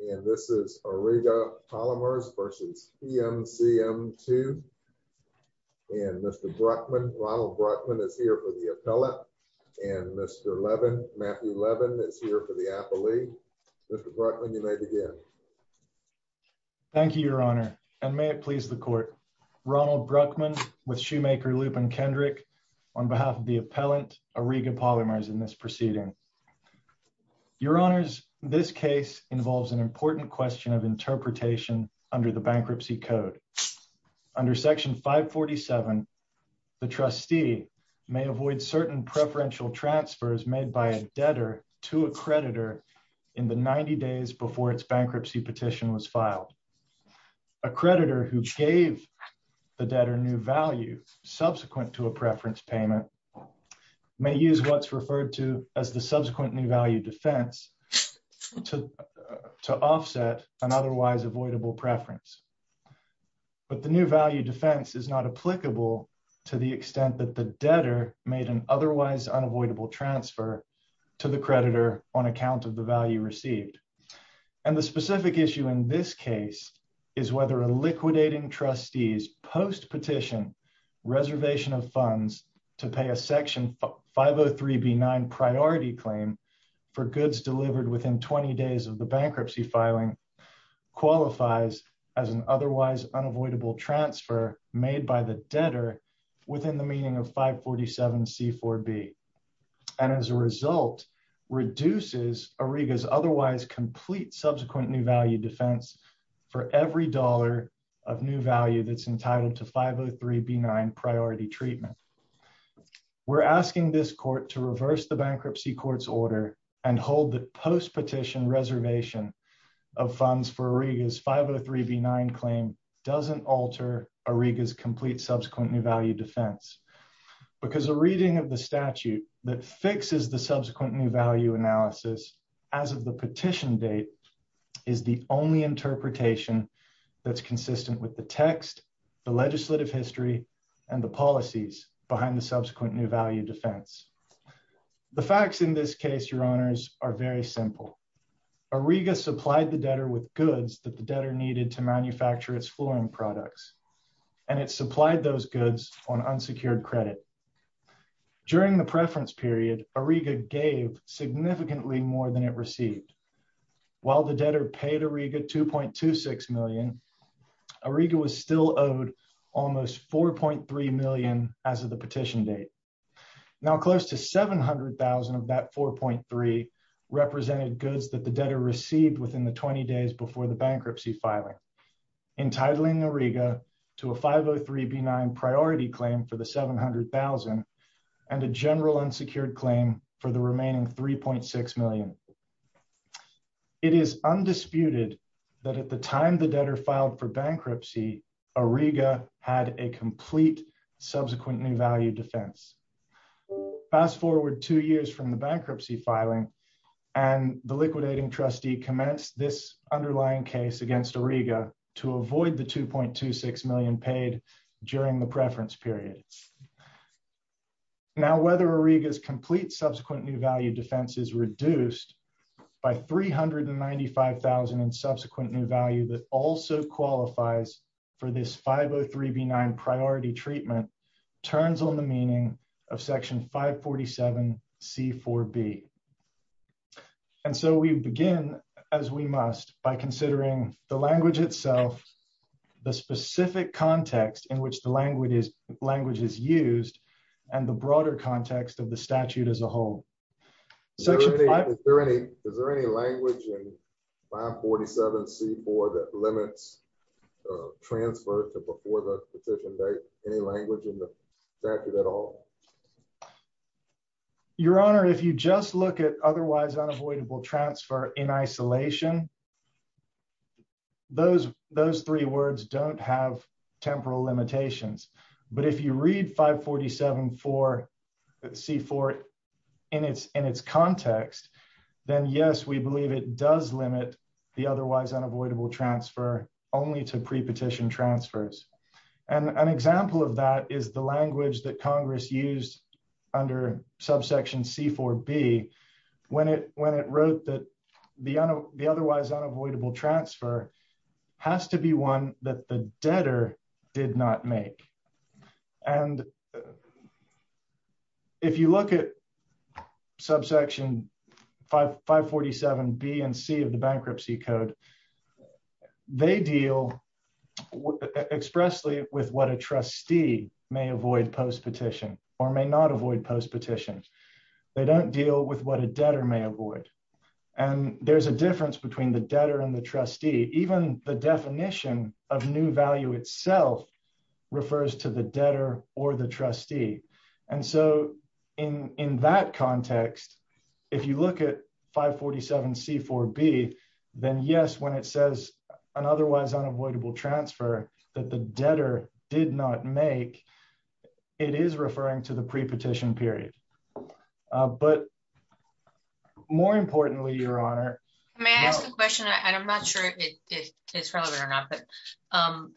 And this is Auriga Polymers v. PMCM2. And Mr. Brockman, Ronald Brockman, is here for the appellate. And Mr. Levin, Matthew Levin, is here for the appellee. Mr. Brockman, you may begin. Thank you, Your Honor, and may it please the Court. Ronald Brockman, with Shoemaker, Lupin, Kendrick, on behalf of the appellant, Auriga Polymers, in this proceeding. Your Honors, this case involves an important question of interpretation under the Bankruptcy Code. Under Section 547, the trustee may avoid certain preferential transfers made by a debtor to a creditor in the 90 days before its bankruptcy petition was filed. A creditor who gave the debtor new value subsequent to a preference payment may use what's referred to as the subsequent new value defense to offset an otherwise avoidable preference. But the new value defense is not applicable to the extent that the debtor made an otherwise unavoidable transfer to the creditor on account of the value received. And the specific issue in this case is whether a reservation of funds to pay a Section 503b9 priority claim for goods delivered within 20 days of the bankruptcy filing qualifies as an otherwise unavoidable transfer made by the debtor within the meaning of 547c4b, and as a result, reduces Auriga's otherwise complete subsequent new value defense for every dollar of new value that's entitled to 503b9 priority treatment. We're asking this Court to reverse the Bankruptcy Court's order and hold that post-petition reservation of funds for Auriga's 503b9 claim doesn't alter Auriga's complete subsequent new value defense. Because a reading of the statute that fixes the subsequent new value analysis as of the petition date is the only interpretation that's consistent with the text, the legislative history, and the policies behind the subsequent new value defense. The facts in this case, Your Honors, are very simple. Auriga supplied the debtor with goods that the debtor needed to manufacture its flooring products, and it supplied those goods on unsecured credit. During the preference period, Auriga gave significantly more than it received. While the debtor paid Auriga $2.26 million, Auriga was still owed almost $4.3 million as of the petition date. Now, close to $700,000 of that $4.3 represented goods that the debtor received within the 20 days before the bankruptcy filing, entitling Auriga to a 503b9 priority claim for the $700,000 and a general unsecured claim for the remaining $3.6 million. It is undisputed that at the time the debtor filed for bankruptcy, Auriga had a complete subsequent new value defense. Fast forward two years from the bankruptcy filing, and the liquidating trustee commenced this underlying case against Auriga to avoid the $2.26 million paid during the preference period. Now, whether Auriga's complete subsequent new value defense is reduced by $395,000 in subsequent new value that also qualifies for this 503b9 priority treatment turns on the meaning of Section 547c4b. And so we begin, as we must, by considering the language itself, the specific context in which the language is used, and the broader context of the statute as a whole. Is there any language in 547c4 that limits transfer to before the petition date, any language in the statute at all? Your Honor, if you just look at otherwise unavoidable transfer in isolation, those three words don't have temporal limitations. But if you read 547c4 in its context, then yes, we believe it does limit the otherwise unavoidable transfer only to pre-petition transfers. And an example of that is the language that Congress used under subsection c4b, when it wrote that the otherwise unavoidable transfer has to be one that the debtor did not expressly with what a trustee may avoid post-petition or may not avoid post-petition. They don't deal with what a debtor may avoid. And there's a difference between the debtor and the trustee, even the definition of new value itself refers to the debtor or the trustee. And so in that context, if you look at 547c4b, then yes, when it says an otherwise unavoidable transfer that the debtor did not make, it is referring to the pre-petition period. But more importantly, Your Honor. May I ask a question? I'm not sure if it is relevant or not, but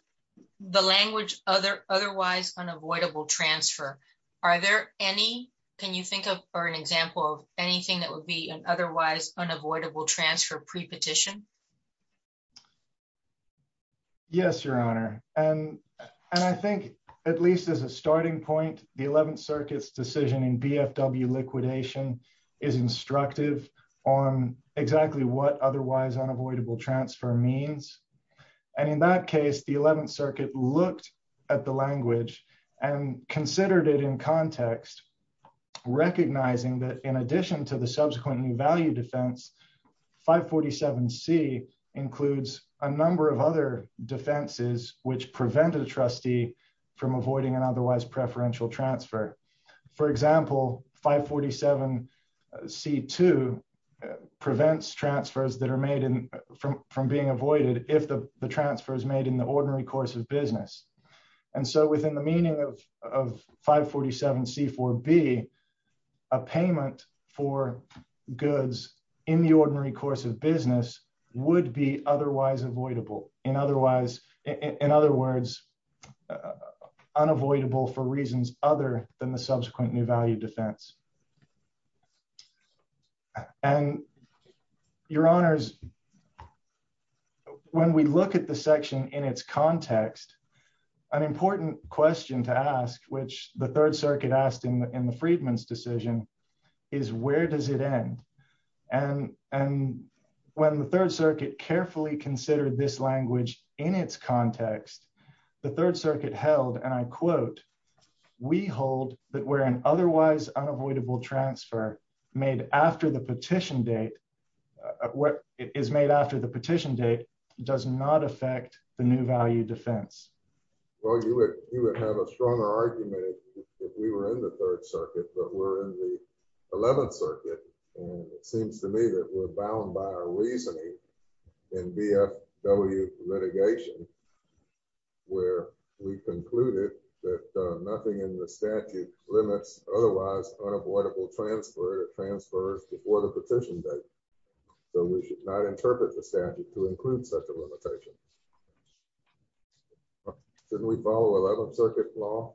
the language otherwise unavoidable transfer, are there any, can you think of or an example of anything that would be an otherwise unavoidable transfer pre-petition? Yes, Your Honor. And I think at least as a starting point, the 11th circuit's decision in BFW liquidation is instructive on exactly what otherwise unavoidable transfer means. And in that case, the 11th circuit looked at the language and considered it in context, recognizing that in addition to the subsequent new value defense, 547c includes a number of other defenses which prevent a trustee from avoiding an otherwise preferential transfer. For example, 547c2 prevents transfers that are made from being avoided if the transfer is made in the way that would be a payment for goods in the ordinary course of business would be otherwise avoidable. In other words, unavoidable for reasons other than the subsequent new value defense. And Your Honors, when we look at the section in its context, an important question to ask, which the 3rd circuit asked in the Freedman's decision is where does it end? And when the 3rd circuit carefully considered this language in its context, the 3rd circuit held, and I quote, we hold that we're an otherwise unavoidable transfer made after the petition date, what is made after the petition date does not affect the new value defense. Well, you would have a stronger argument if we were in the 3rd circuit, but we're in the 11th circuit. And it seems to me that we're bound by our reasoning in BFW litigation, where we concluded that nothing in the statute limits otherwise unavoidable transfer or transfers before the petition date. So we should not interpret the statute to include such a limitation. Shouldn't we follow 11th circuit law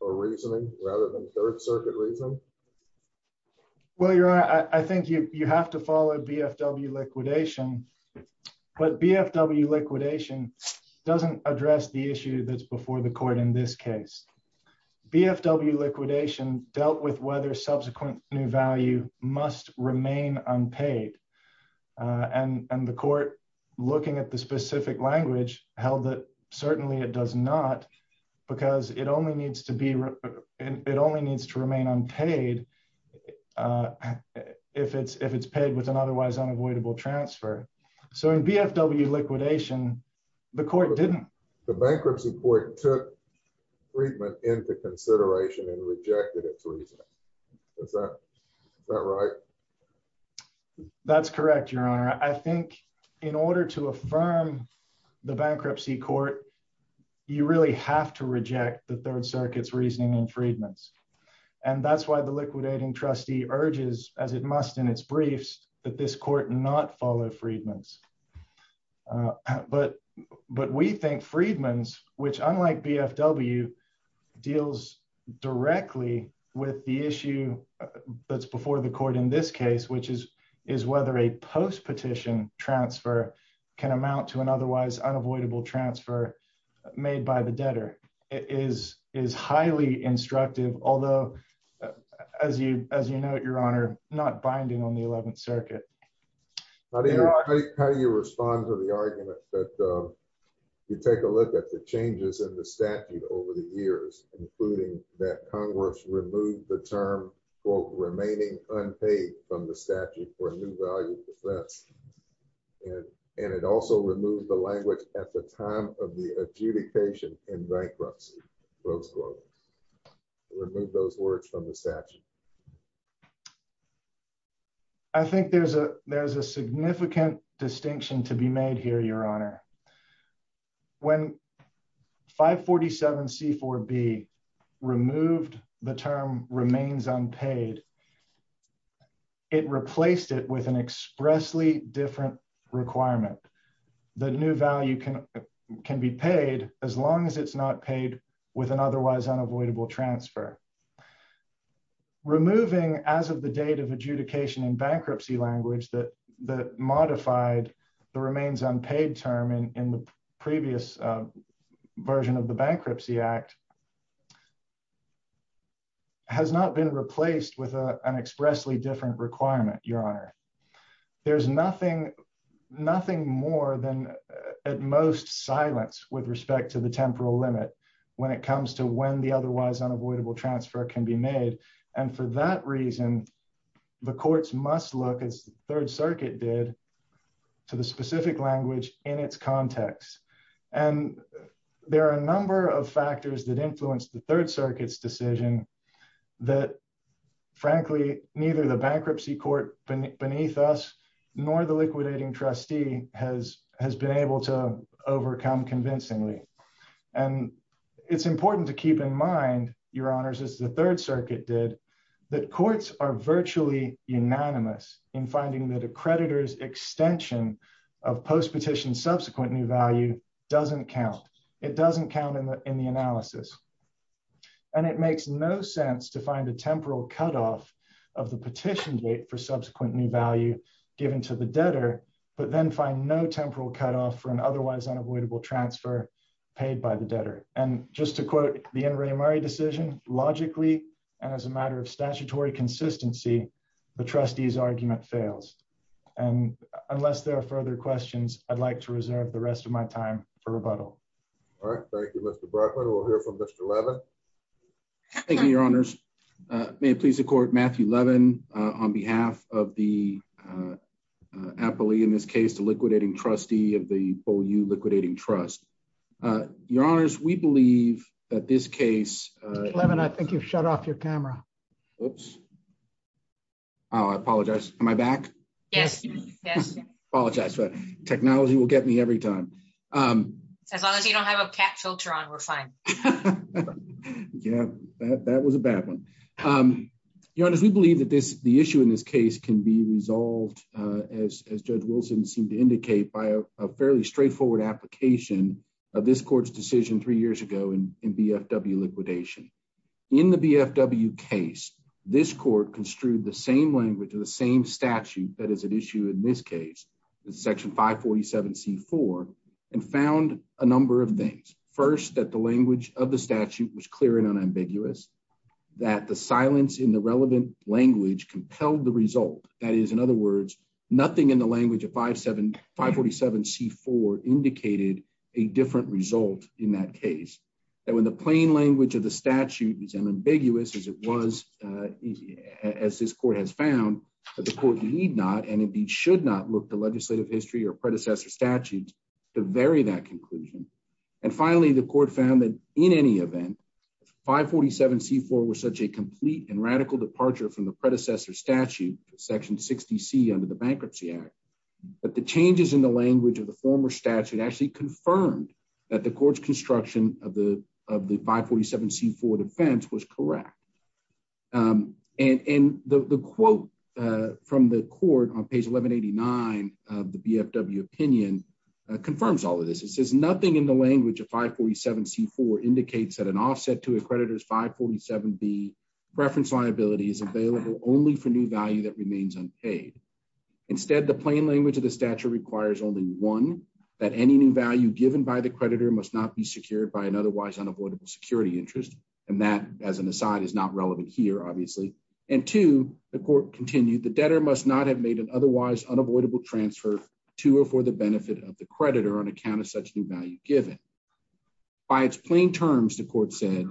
or reasoning rather than 3rd circuit reason? Well, Your Honor, I think you have to follow BFW liquidation. But BFW liquidation doesn't address the issue that's before the court in this case. BFW liquidation dealt with whether subsequent new value must remain unpaid. And the court, looking at the specific language held that certainly it does not, because it only needs to remain unpaid if it's paid with an otherwise unavoidable transfer. So in BFW liquidation, the court didn't. The bankruptcy court took treatment into consideration and rejected its reasoning. Is that right? That's correct, Your Honor. I think in order to affirm the bankruptcy court, you really have to reject the 3rd circuit's reasoning in Freedman's. And that's why the liquidating trustee urges, as it must in its briefs, that this court not follow Freedman's. But we think Freedman's, which unlike BFW, deals directly with the issue that's before the court in this case, which is whether a post-petition transfer can amount to an otherwise unavoidable transfer made by the debtor, is highly instructive. Although, as you note, Your Honor, not binding on the 11th circuit. How do you respond to the argument that you take a look at the changes in the statute over the years, including that Congress removed the term, quote, remaining unpaid from the statute for a new value defense. And it also removed the language at the time of the adjudication in bankruptcy. Remove those words from the statute. I think there's a significant distinction to be made here, Your Honor. When 547C4B removed the term remains unpaid, it replaced it with an expressly different requirement. The new value can be paid as long as it's not paid with an otherwise unavoidable transfer. Removing as of the date of adjudication in bankruptcy language that modified the remains unpaid term in the previous version of the Bankruptcy Act has not been replaced with an expressly different requirement, Your Honor. There's nothing, nothing more than at most silence with respect to the temporal limit when it comes to when the otherwise unavoidable transfer can be made. And for that reason, the courts must look, as the Third Circuit did, to the specific language in its context. And there are a number of factors that influence the Third Circuit's decision that, frankly, neither the bankruptcy court beneath us nor the liquidating trustee has been able to overcome convincingly. And it's important to keep in mind, Your Honors, as the unanimous in finding that a creditor's extension of post-petition subsequent new value doesn't count. It doesn't count in the analysis. And it makes no sense to find a temporal cutoff of the petition date for subsequent new value given to the debtor, but then find no temporal cutoff for an otherwise unavoidable transfer paid by the debtor. And just to quote the N. Statutory consistency, the trustee's argument fails. And unless there are further questions, I'd like to reserve the rest of my time for rebuttal. All right. Thank you, Mr. Brockman. We'll hear from Mr. Levin. Thank you, Your Honors. May it please the court, Matthew Levin, on behalf of the appellee in this case, the liquidating trustee of the BOU Liquidating Trust. Your Honors, we believe that this case... Mr. Levin, I think you've shut off your camera. Oops. Oh, I apologize. Am I back? Yes. Yes. Apologize. Technology will get me every time. As long as you don't have a cat filter on, we're fine. Yeah. That was a bad one. Your Honors, we believe that the issue in this case can be resolved, as Judge Wilson seemed to indicate, by a fairly straightforward application of this decision three years ago in BFW liquidation. In the BFW case, this court construed the same language of the same statute that is at issue in this case, Section 547C4, and found a number of things. First, that the language of the statute was clear and unambiguous, that the silence in the relevant language compelled the result. That is, in other words, nothing in the language of in that case. That when the plain language of the statute is unambiguous as it was, as this court has found, that the court need not and indeed should not look to legislative history or predecessor statutes to vary that conclusion. And finally, the court found that in any event, 547C4 was such a complete and radical departure from the predecessor statute, Section 60C under the Bankruptcy Act, that the changes in the language of the former statute actually confirmed that the court's construction of the 547C4 defense was correct. And the quote from the court on page 1189 of the BFW opinion confirms all of this. It says, nothing in the language of 547C4 indicates that an offset to a creditor's 547B preference liability is available only for new value that remains unpaid. Instead, the plain language of the statute requires only one, that any new value given by the creditor must not be secured by an otherwise unavoidable security interest. And that, as an aside, is not relevant here, obviously. And two, the court continued, the debtor must not have made an otherwise unavoidable transfer to or for the benefit of the creditor on account of such new value given. By its plain terms, the court said,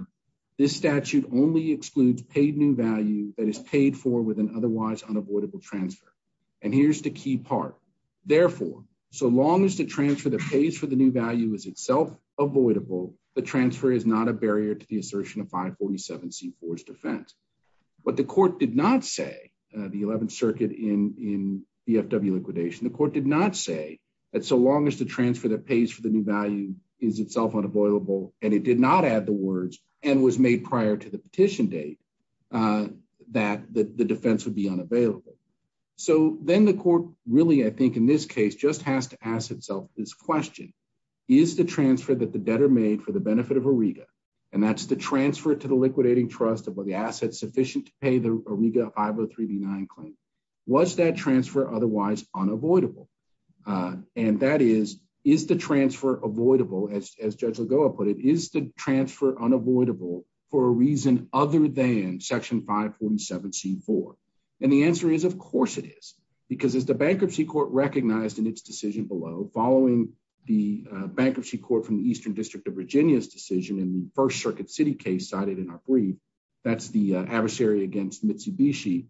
this statute only excludes paid new value that is paid for with an otherwise unavoidable transfer. Here's the key part. Therefore, so long as the transfer that pays for the new value is itself avoidable, the transfer is not a barrier to the assertion of 547C4's defense. But the court did not say, the 11th Circuit in BFW liquidation, the court did not say that so long as the transfer that pays for the new value is itself unavoidable, and it did not add the words, and was made prior to the petition date, that the defense would be unavailable. So then the court really, I think, in this case, just has to ask itself this question, is the transfer that the debtor made for the benefit of Auriga, and that's the transfer to the liquidating trust of the assets sufficient to pay the Auriga 503D9 claim, was that transfer otherwise unavoidable? And that is, is the transfer avoidable, as Judge Lagoa put it, is the transfer unavoidable for a reason other than Section 547C4? And the answer is, of course it is, because as the bankruptcy court recognized in its decision below, following the bankruptcy court from the Eastern District of Virginia's decision in the First Circuit City case cited in our brief, that's the adversary against Mitsubishi,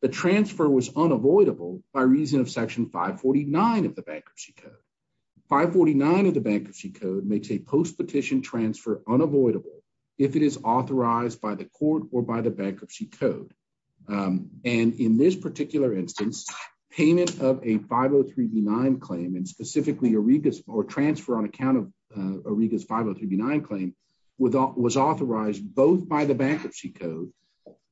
the transfer was unavoidable by reason of Section 549 of the Bankruptcy Code. 549 of the Bankruptcy Code makes a post-petition transfer unavoidable if it is authorized by the court or by the Bankruptcy Code. And in this particular instance, payment of a 503D9 claim, and specifically Auriga's, or transfer on account of Auriga's 503D9 claim, was authorized both by the Bankruptcy Code,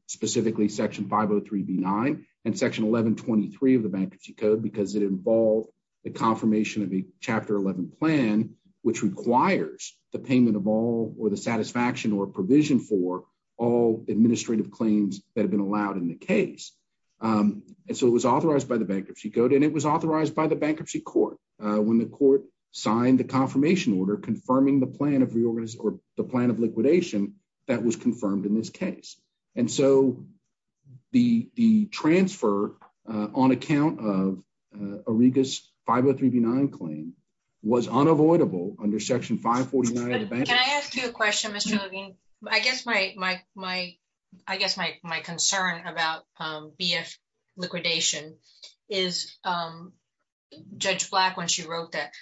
specifically Section 503D9 and Section 1123 of the Bankruptcy Code, because it involved the confirmation of a Chapter 11 plan, which requires the payment of all, or the satisfaction or provision for, all administrative claims that have been allowed in the case. And so it was authorized by the Bankruptcy Code, and it was authorized by the Bankruptcy Court when the court signed the confirmation order confirming the plan of reorganization, or the plan of liquidation that was confirmed in this case. And so the transfer on account of Auriga's 503D9 claim was unavoidable under Section 549 of the Bankruptcy Code. Can I ask you a question, Mr. Levine? I guess my concern about BF liquidation is, Judge Black, when she wrote that,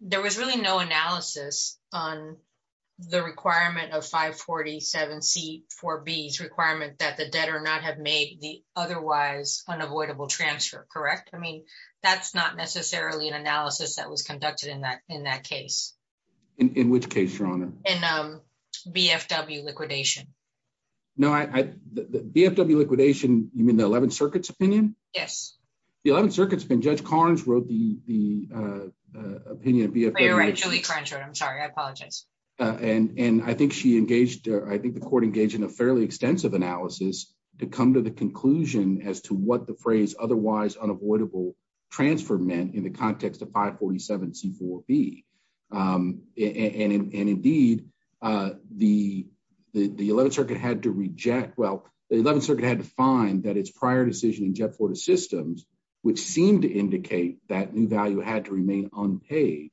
there was really no analysis on the requirement of 547C4B's requirement that debtor not have made the otherwise unavoidable transfer, correct? I mean, that's not necessarily an analysis that was conducted in that case. In which case, Your Honor? In BFW liquidation. No, BFW liquidation, you mean the 11th Circuit's opinion? Yes. The 11th Circuit's opinion, Judge Carnes wrote the opinion of BFW liquidation. You're right, Julie Carnes wrote it, I'm sorry, I apologize. And I think she engaged, I think the court engaged in a fairly extensive analysis to come to the conclusion as to what the phrase otherwise unavoidable transfer meant in the context of 547C4B. And indeed, the 11th Circuit had to reject, well, the 11th Circuit had to find that its prior decision in Jet Fortis Systems, which seemed to indicate that new value had to the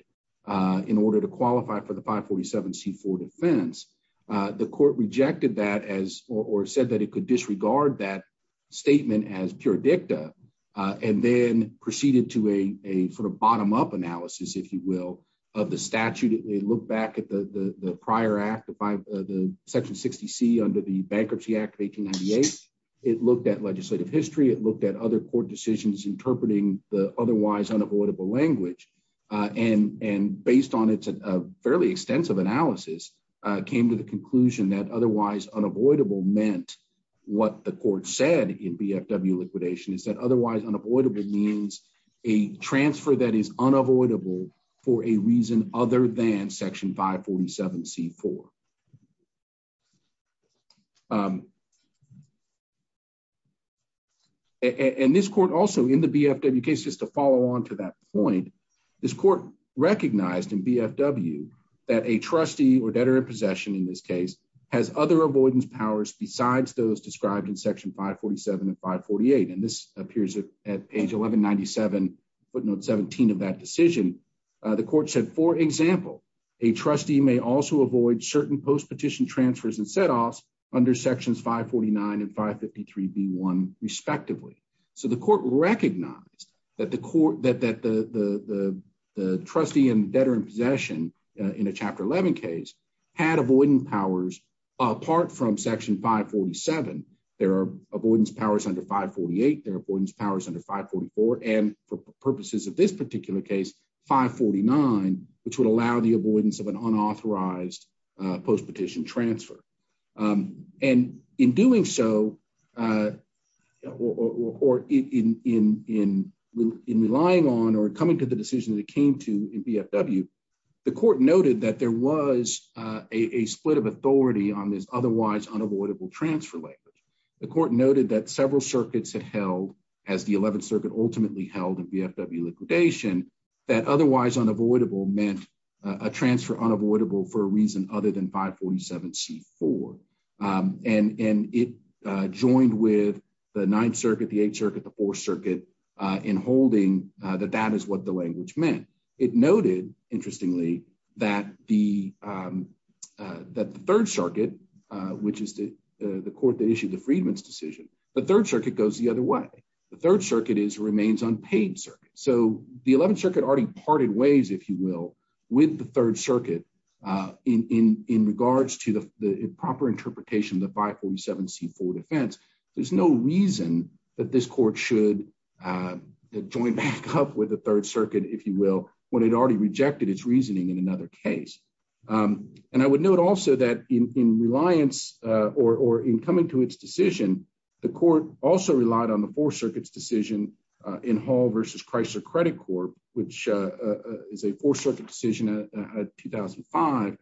547C4 defense. The court rejected that or said that it could disregard that statement as pure dicta, and then proceeded to a sort of bottom-up analysis, if you will, of the statute. It looked back at the prior act, the Section 60C under the Bankruptcy Act of 1898. It looked at legislative history, it looked at other court decisions interpreting the otherwise unavoidable language, and based on its fairly extensive analysis, came to the conclusion that otherwise unavoidable meant what the court said in BFW liquidation is that otherwise unavoidable means a transfer that is unavoidable for a reason other than Section 547C4. And this court also, in the BFW case, just to follow on to that point, this court recognized in BFW that a trustee or debtor in possession in this case has other avoidance powers besides those described in Section 547 and 548. And this appears at page 1197, footnote 17 of that decision. The court said, for example, a trustee may also avoid certain post-petition transfer and set-offs under Sections 549 and 553B1, respectively. So the court recognized that the trustee and debtor in possession in a Chapter 11 case had avoidance powers apart from Section 547. There are avoidance powers under 548, there are avoidance powers under 544, and for purposes of this particular case, 549, which would allow the avoidance of an unauthorized post-petition transfer. And in doing so, or in relying on or coming to the decision that it came to in BFW, the court noted that there was a split of authority on this otherwise unavoidable transfer language. The court noted that several circuits had held, as the 11th Circuit ultimately held in BFW liquidation, that otherwise unavoidable meant a transfer unavoidable for a reason other than 547C4. And it joined with the 9th Circuit, the 8th Circuit, the 4th Circuit in holding that that is what the language meant. It noted, interestingly, that the 3rd Circuit, which is the court that issued the Freedman's decision, the 3rd Circuit goes the other way. The 3rd Circuit remains unpaid circuit. So the 11th Circuit already parted ways, if you will, with the 3rd Circuit in regards to the proper interpretation of the 547C4 defense. There's no reason that this court should join back up with the 3rd Circuit, if you will, when it already rejected its reasoning in another case. And I would note also that in reliance or in coming to its decision, the court also relied on the 4th Circuit's decision in Hall v. Chrysler Credit Corp., which is a 4th Circuit decision at 2005,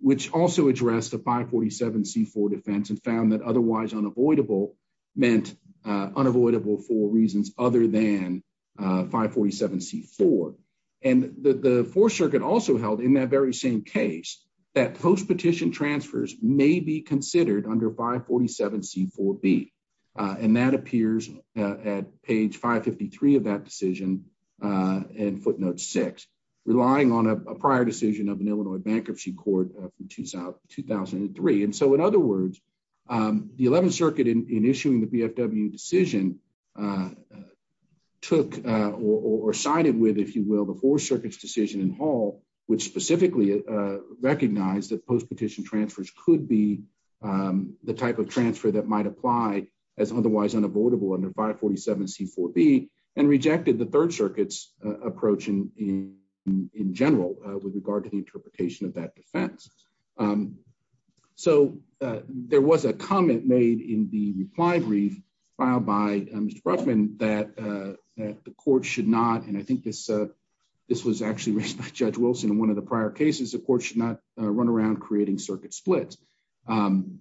which also addressed the 547C4 defense and found that otherwise unavoidable meant unavoidable for reasons other than 547C4. And the 4th Circuit also held in that very same case that post-petition transfers may be considered under 547C4B. And that appears at page 553 of that decision and footnote 6, relying on a prior decision of an Illinois bankruptcy court from 2003. And so in other words, the 11th Circuit in issuing the BFW decision took or sided with, if you will, the 4th Circuit's decision in Hall, which specifically recognized that post-petition transfers could be the type of transfer that might apply as otherwise unavoidable under 547C4B and rejected the 3rd Circuit's approach in general with regard to the interpretation of that defense. So there was a comment made in the reply brief filed by Mr. Brushman that the court should not, and I think this was actually raised by Judge Wilson in one of the prior cases, the court should not run around creating circuit splits. And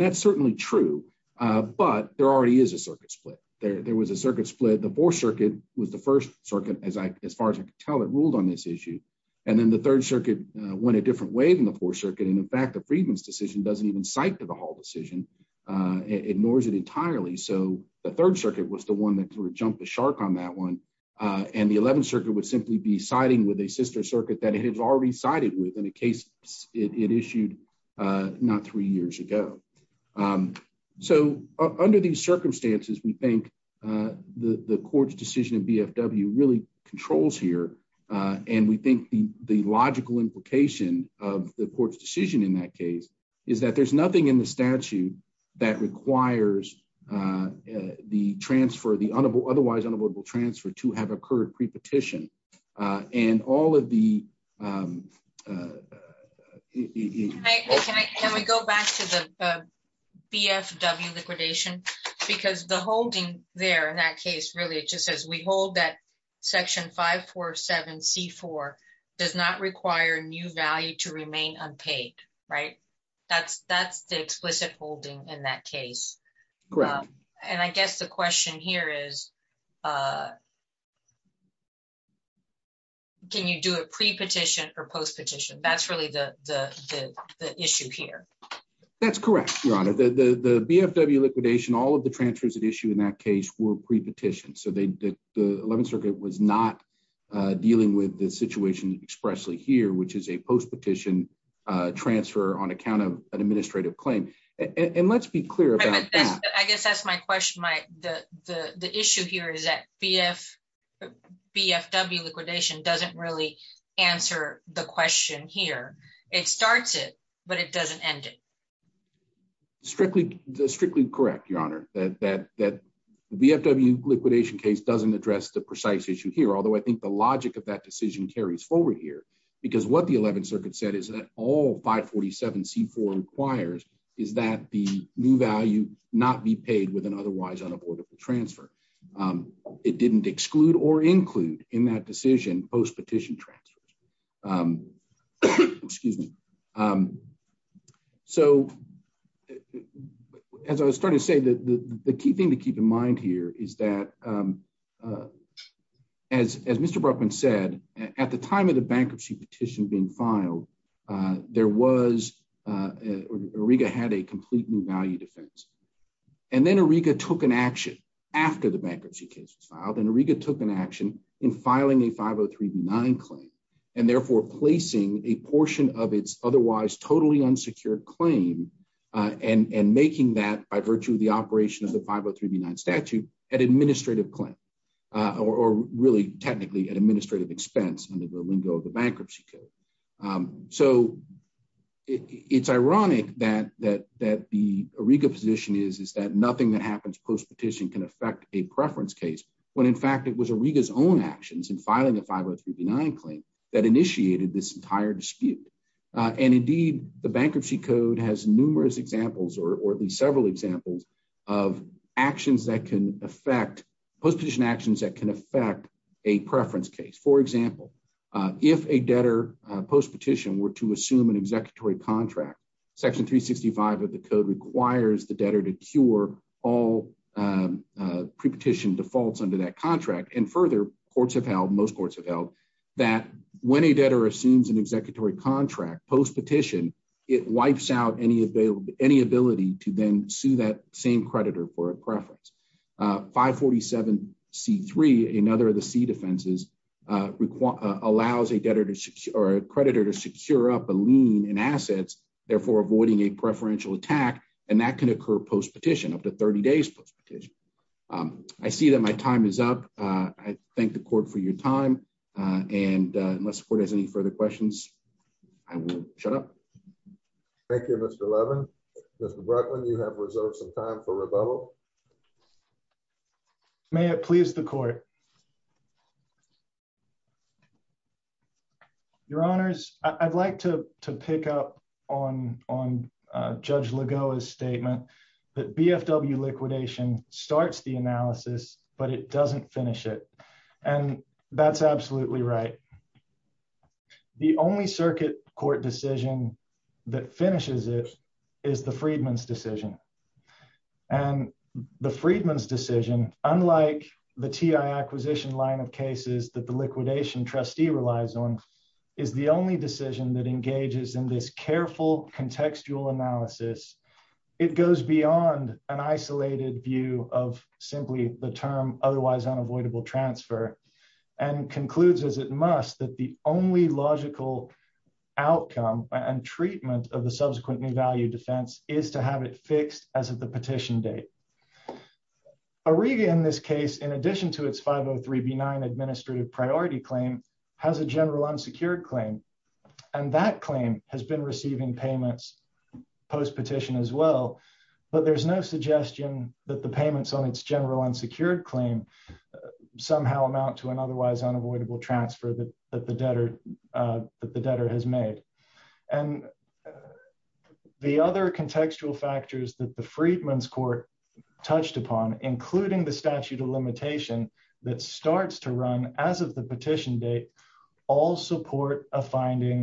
that's certainly true, but there already is a circuit split. There was a circuit split. The 4th Circuit was the first circuit, as far as I could tell, that ruled on this issue. And then the 3rd Circuit went a different way than the 4th Circuit. And in fact, the Freedman's decision doesn't even cite the Hall decision. It ignores it entirely. So the 3rd Circuit was the one that sort of jumped the shark on that one. And the 11th Circuit would simply be siding with a sister circuit that it has already sided with in a case it issued not three years ago. So under these circumstances, we think the court's decision in BFW really controls here. And we think the logical implication of the court's decision in that case is that there's nothing in the statute that requires the transfer, the otherwise unavoidable transfer to have occurred pre-petition. And all of the... Can we go back to the BFW liquidation? Because the holding there in that case, really it just says we hold that Section 547C4 does not require new value to remain unpaid, right? That's the explicit holding in that case. And I guess the question here is, can you do a pre-petition or post-petition? That's really the issue here. That's correct, Your Honor. The BFW liquidation, all of the transfers at issue in that case were pre-petition. So the 11th Circuit was not dealing with the situation expressly here, which is a post-petition transfer on account of an administrative claim. And let's be clear about... I guess that's my question. The issue here is that BFW liquidation doesn't really answer the question here. It starts it, but it doesn't end it. Strictly correct, Your Honor. The BFW liquidation case doesn't address the precise issue here, although I think the logic of that decision carries forward here. Because what the 11th Circuit said is that all 547C4 requires is that the new value not be paid with an otherwise unavoidable transfer. It didn't exclude or include in that decision post-petition transfers. So as I was starting to say, the key thing to keep in mind here is that as Mr. Bruckman said, at the time of the bankruptcy petition being filed, Auriga had a complete new value defense. And then Auriga took an action after the bankruptcy case was filed, and Auriga took an action in filing a 503B9 claim and therefore placing a portion of its otherwise totally unsecured claim and making that by claim or really technically an administrative expense under the lingo of the bankruptcy code. So it's ironic that the Auriga position is that nothing that happens post-petition can affect a preference case, when in fact it was Auriga's own actions in filing a 503B9 claim that initiated this entire dispute. And indeed, the bankruptcy code has numerous examples or at least several examples of actions that can affect, post-petition actions that can affect a preference case. For example, if a debtor post-petition were to assume an executory contract, section 365 of the code requires the debtor to cure all pre-petition defaults under that contract. And further, courts have held, most courts have held, that when a debtor assumes an executory contract post-petition, it wipes out any ability to then sue that same creditor for a preference. 547C3 in other of the C defenses allows a creditor to secure up a lien in assets, therefore avoiding a preferential attack, and that can occur post-petition, up to 30 days post-petition. I see that my time is up. I thank the court for your time, and unless the court has any further questions, I will shut up. Thank you, Mr. Levin. Mr. Bruckman, you have reserved some time for rebuttal. May it please the court. Your honors, I'd like to pick up on Judge Lagoa's statement that BFW liquidation starts the analysis, but it doesn't finish it, and that's absolutely right. The only circuit court decision that finishes it is the Freedman's decision, and the Freedman's decision, unlike the TI acquisition line of cases that the liquidation trustee relies on, is the only decision that engages in this careful contextual analysis. It goes beyond an isolated view of simply the term otherwise unavoidable transfer, and concludes, as it must, that the only logical outcome and treatment of the subsequently valued defense is to have it fixed as of the petition date. Arega, in this case, in addition to its 503B9 administrative priority claim, has a general unsecured claim, and that claim has been receiving payments post petition as well, but there's no suggestion that the payments on its general unsecured claim somehow amount to an otherwise unavoidable transfer that the debtor has made. And the other contextual factors that the Freedman's court touched upon, including the statute of limitation that starts to run as of the petition date, all support a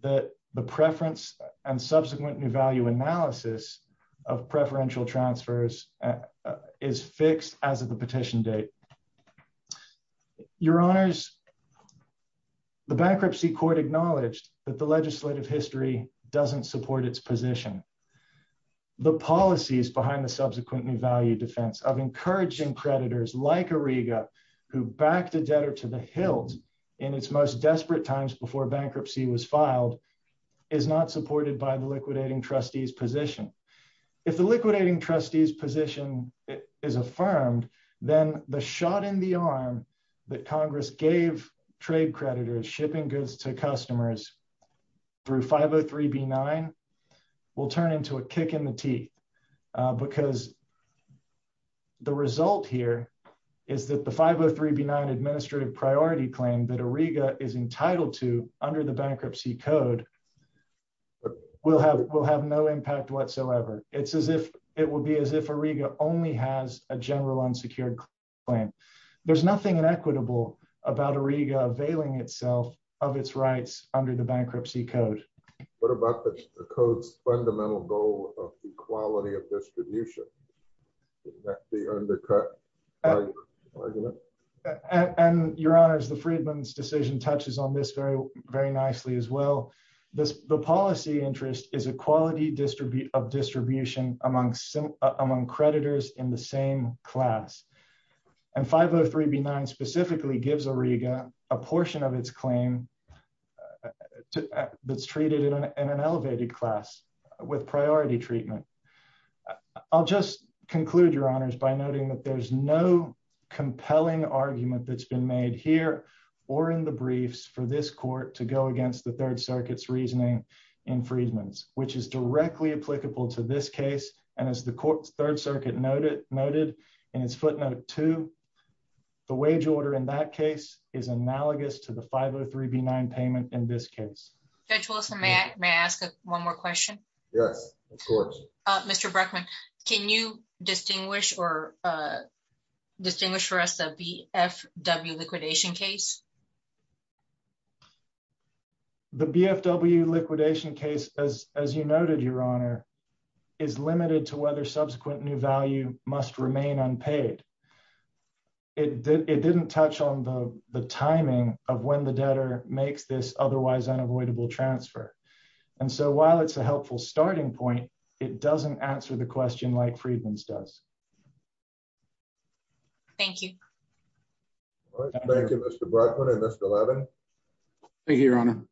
the preference and subsequent new value analysis of preferential transfers is fixed as of the petition date. Your Honors, the bankruptcy court acknowledged that the legislative history doesn't support its position. The policies behind the subsequent new value defense of encouraging creditors like Arega, who backed a debtor to the hilt in its most desperate times before bankruptcy was filed, is not supported by the liquidating trustee's position. If the liquidating trustee's position is affirmed, then the shot in the arm that Congress gave trade creditors shipping goods to customers through 503B9 will turn into a kick in the teeth, because the result here is that the code will have no impact whatsoever. It's as if it will be as if Arega only has a general unsecured claim. There's nothing inequitable about Arega availing itself of its rights under the bankruptcy code. What about the code's fundamental goal of equality of distribution? Is that the undercut argument? Your Honors, the Friedman's decision touches on this very nicely as well. The policy interest is equality of distribution among creditors in the same class, and 503B9 specifically gives Arega a portion of its claim that's treated in an elevated class with priority treatment. I'll just conclude, Your Honors, by noting that there's no compelling argument that's been made here or in the briefs for this court to go against the Third Circuit's reasoning in Friedman's, which is directly applicable to this case. As the court's Third Circuit noted in its footnote two, the wage order in that case is analogous to the 503B9 payment in this case. Judge Wilson, may I ask one more question? Yes, of course. Mr. Bruckman, can you distinguish for us the BFW liquidation case? The BFW liquidation case, as you noted, Your Honor, is limited to whether subsequent new value must remain unpaid. It didn't touch on the timing of when the debtor makes this otherwise unavoidable transfer, and so while it's a helpful starting point, it doesn't answer the question like Friedman's does. Thank you. Thank you, Mr. Bruckman and Mr. Levin. Thank you, Your Honor.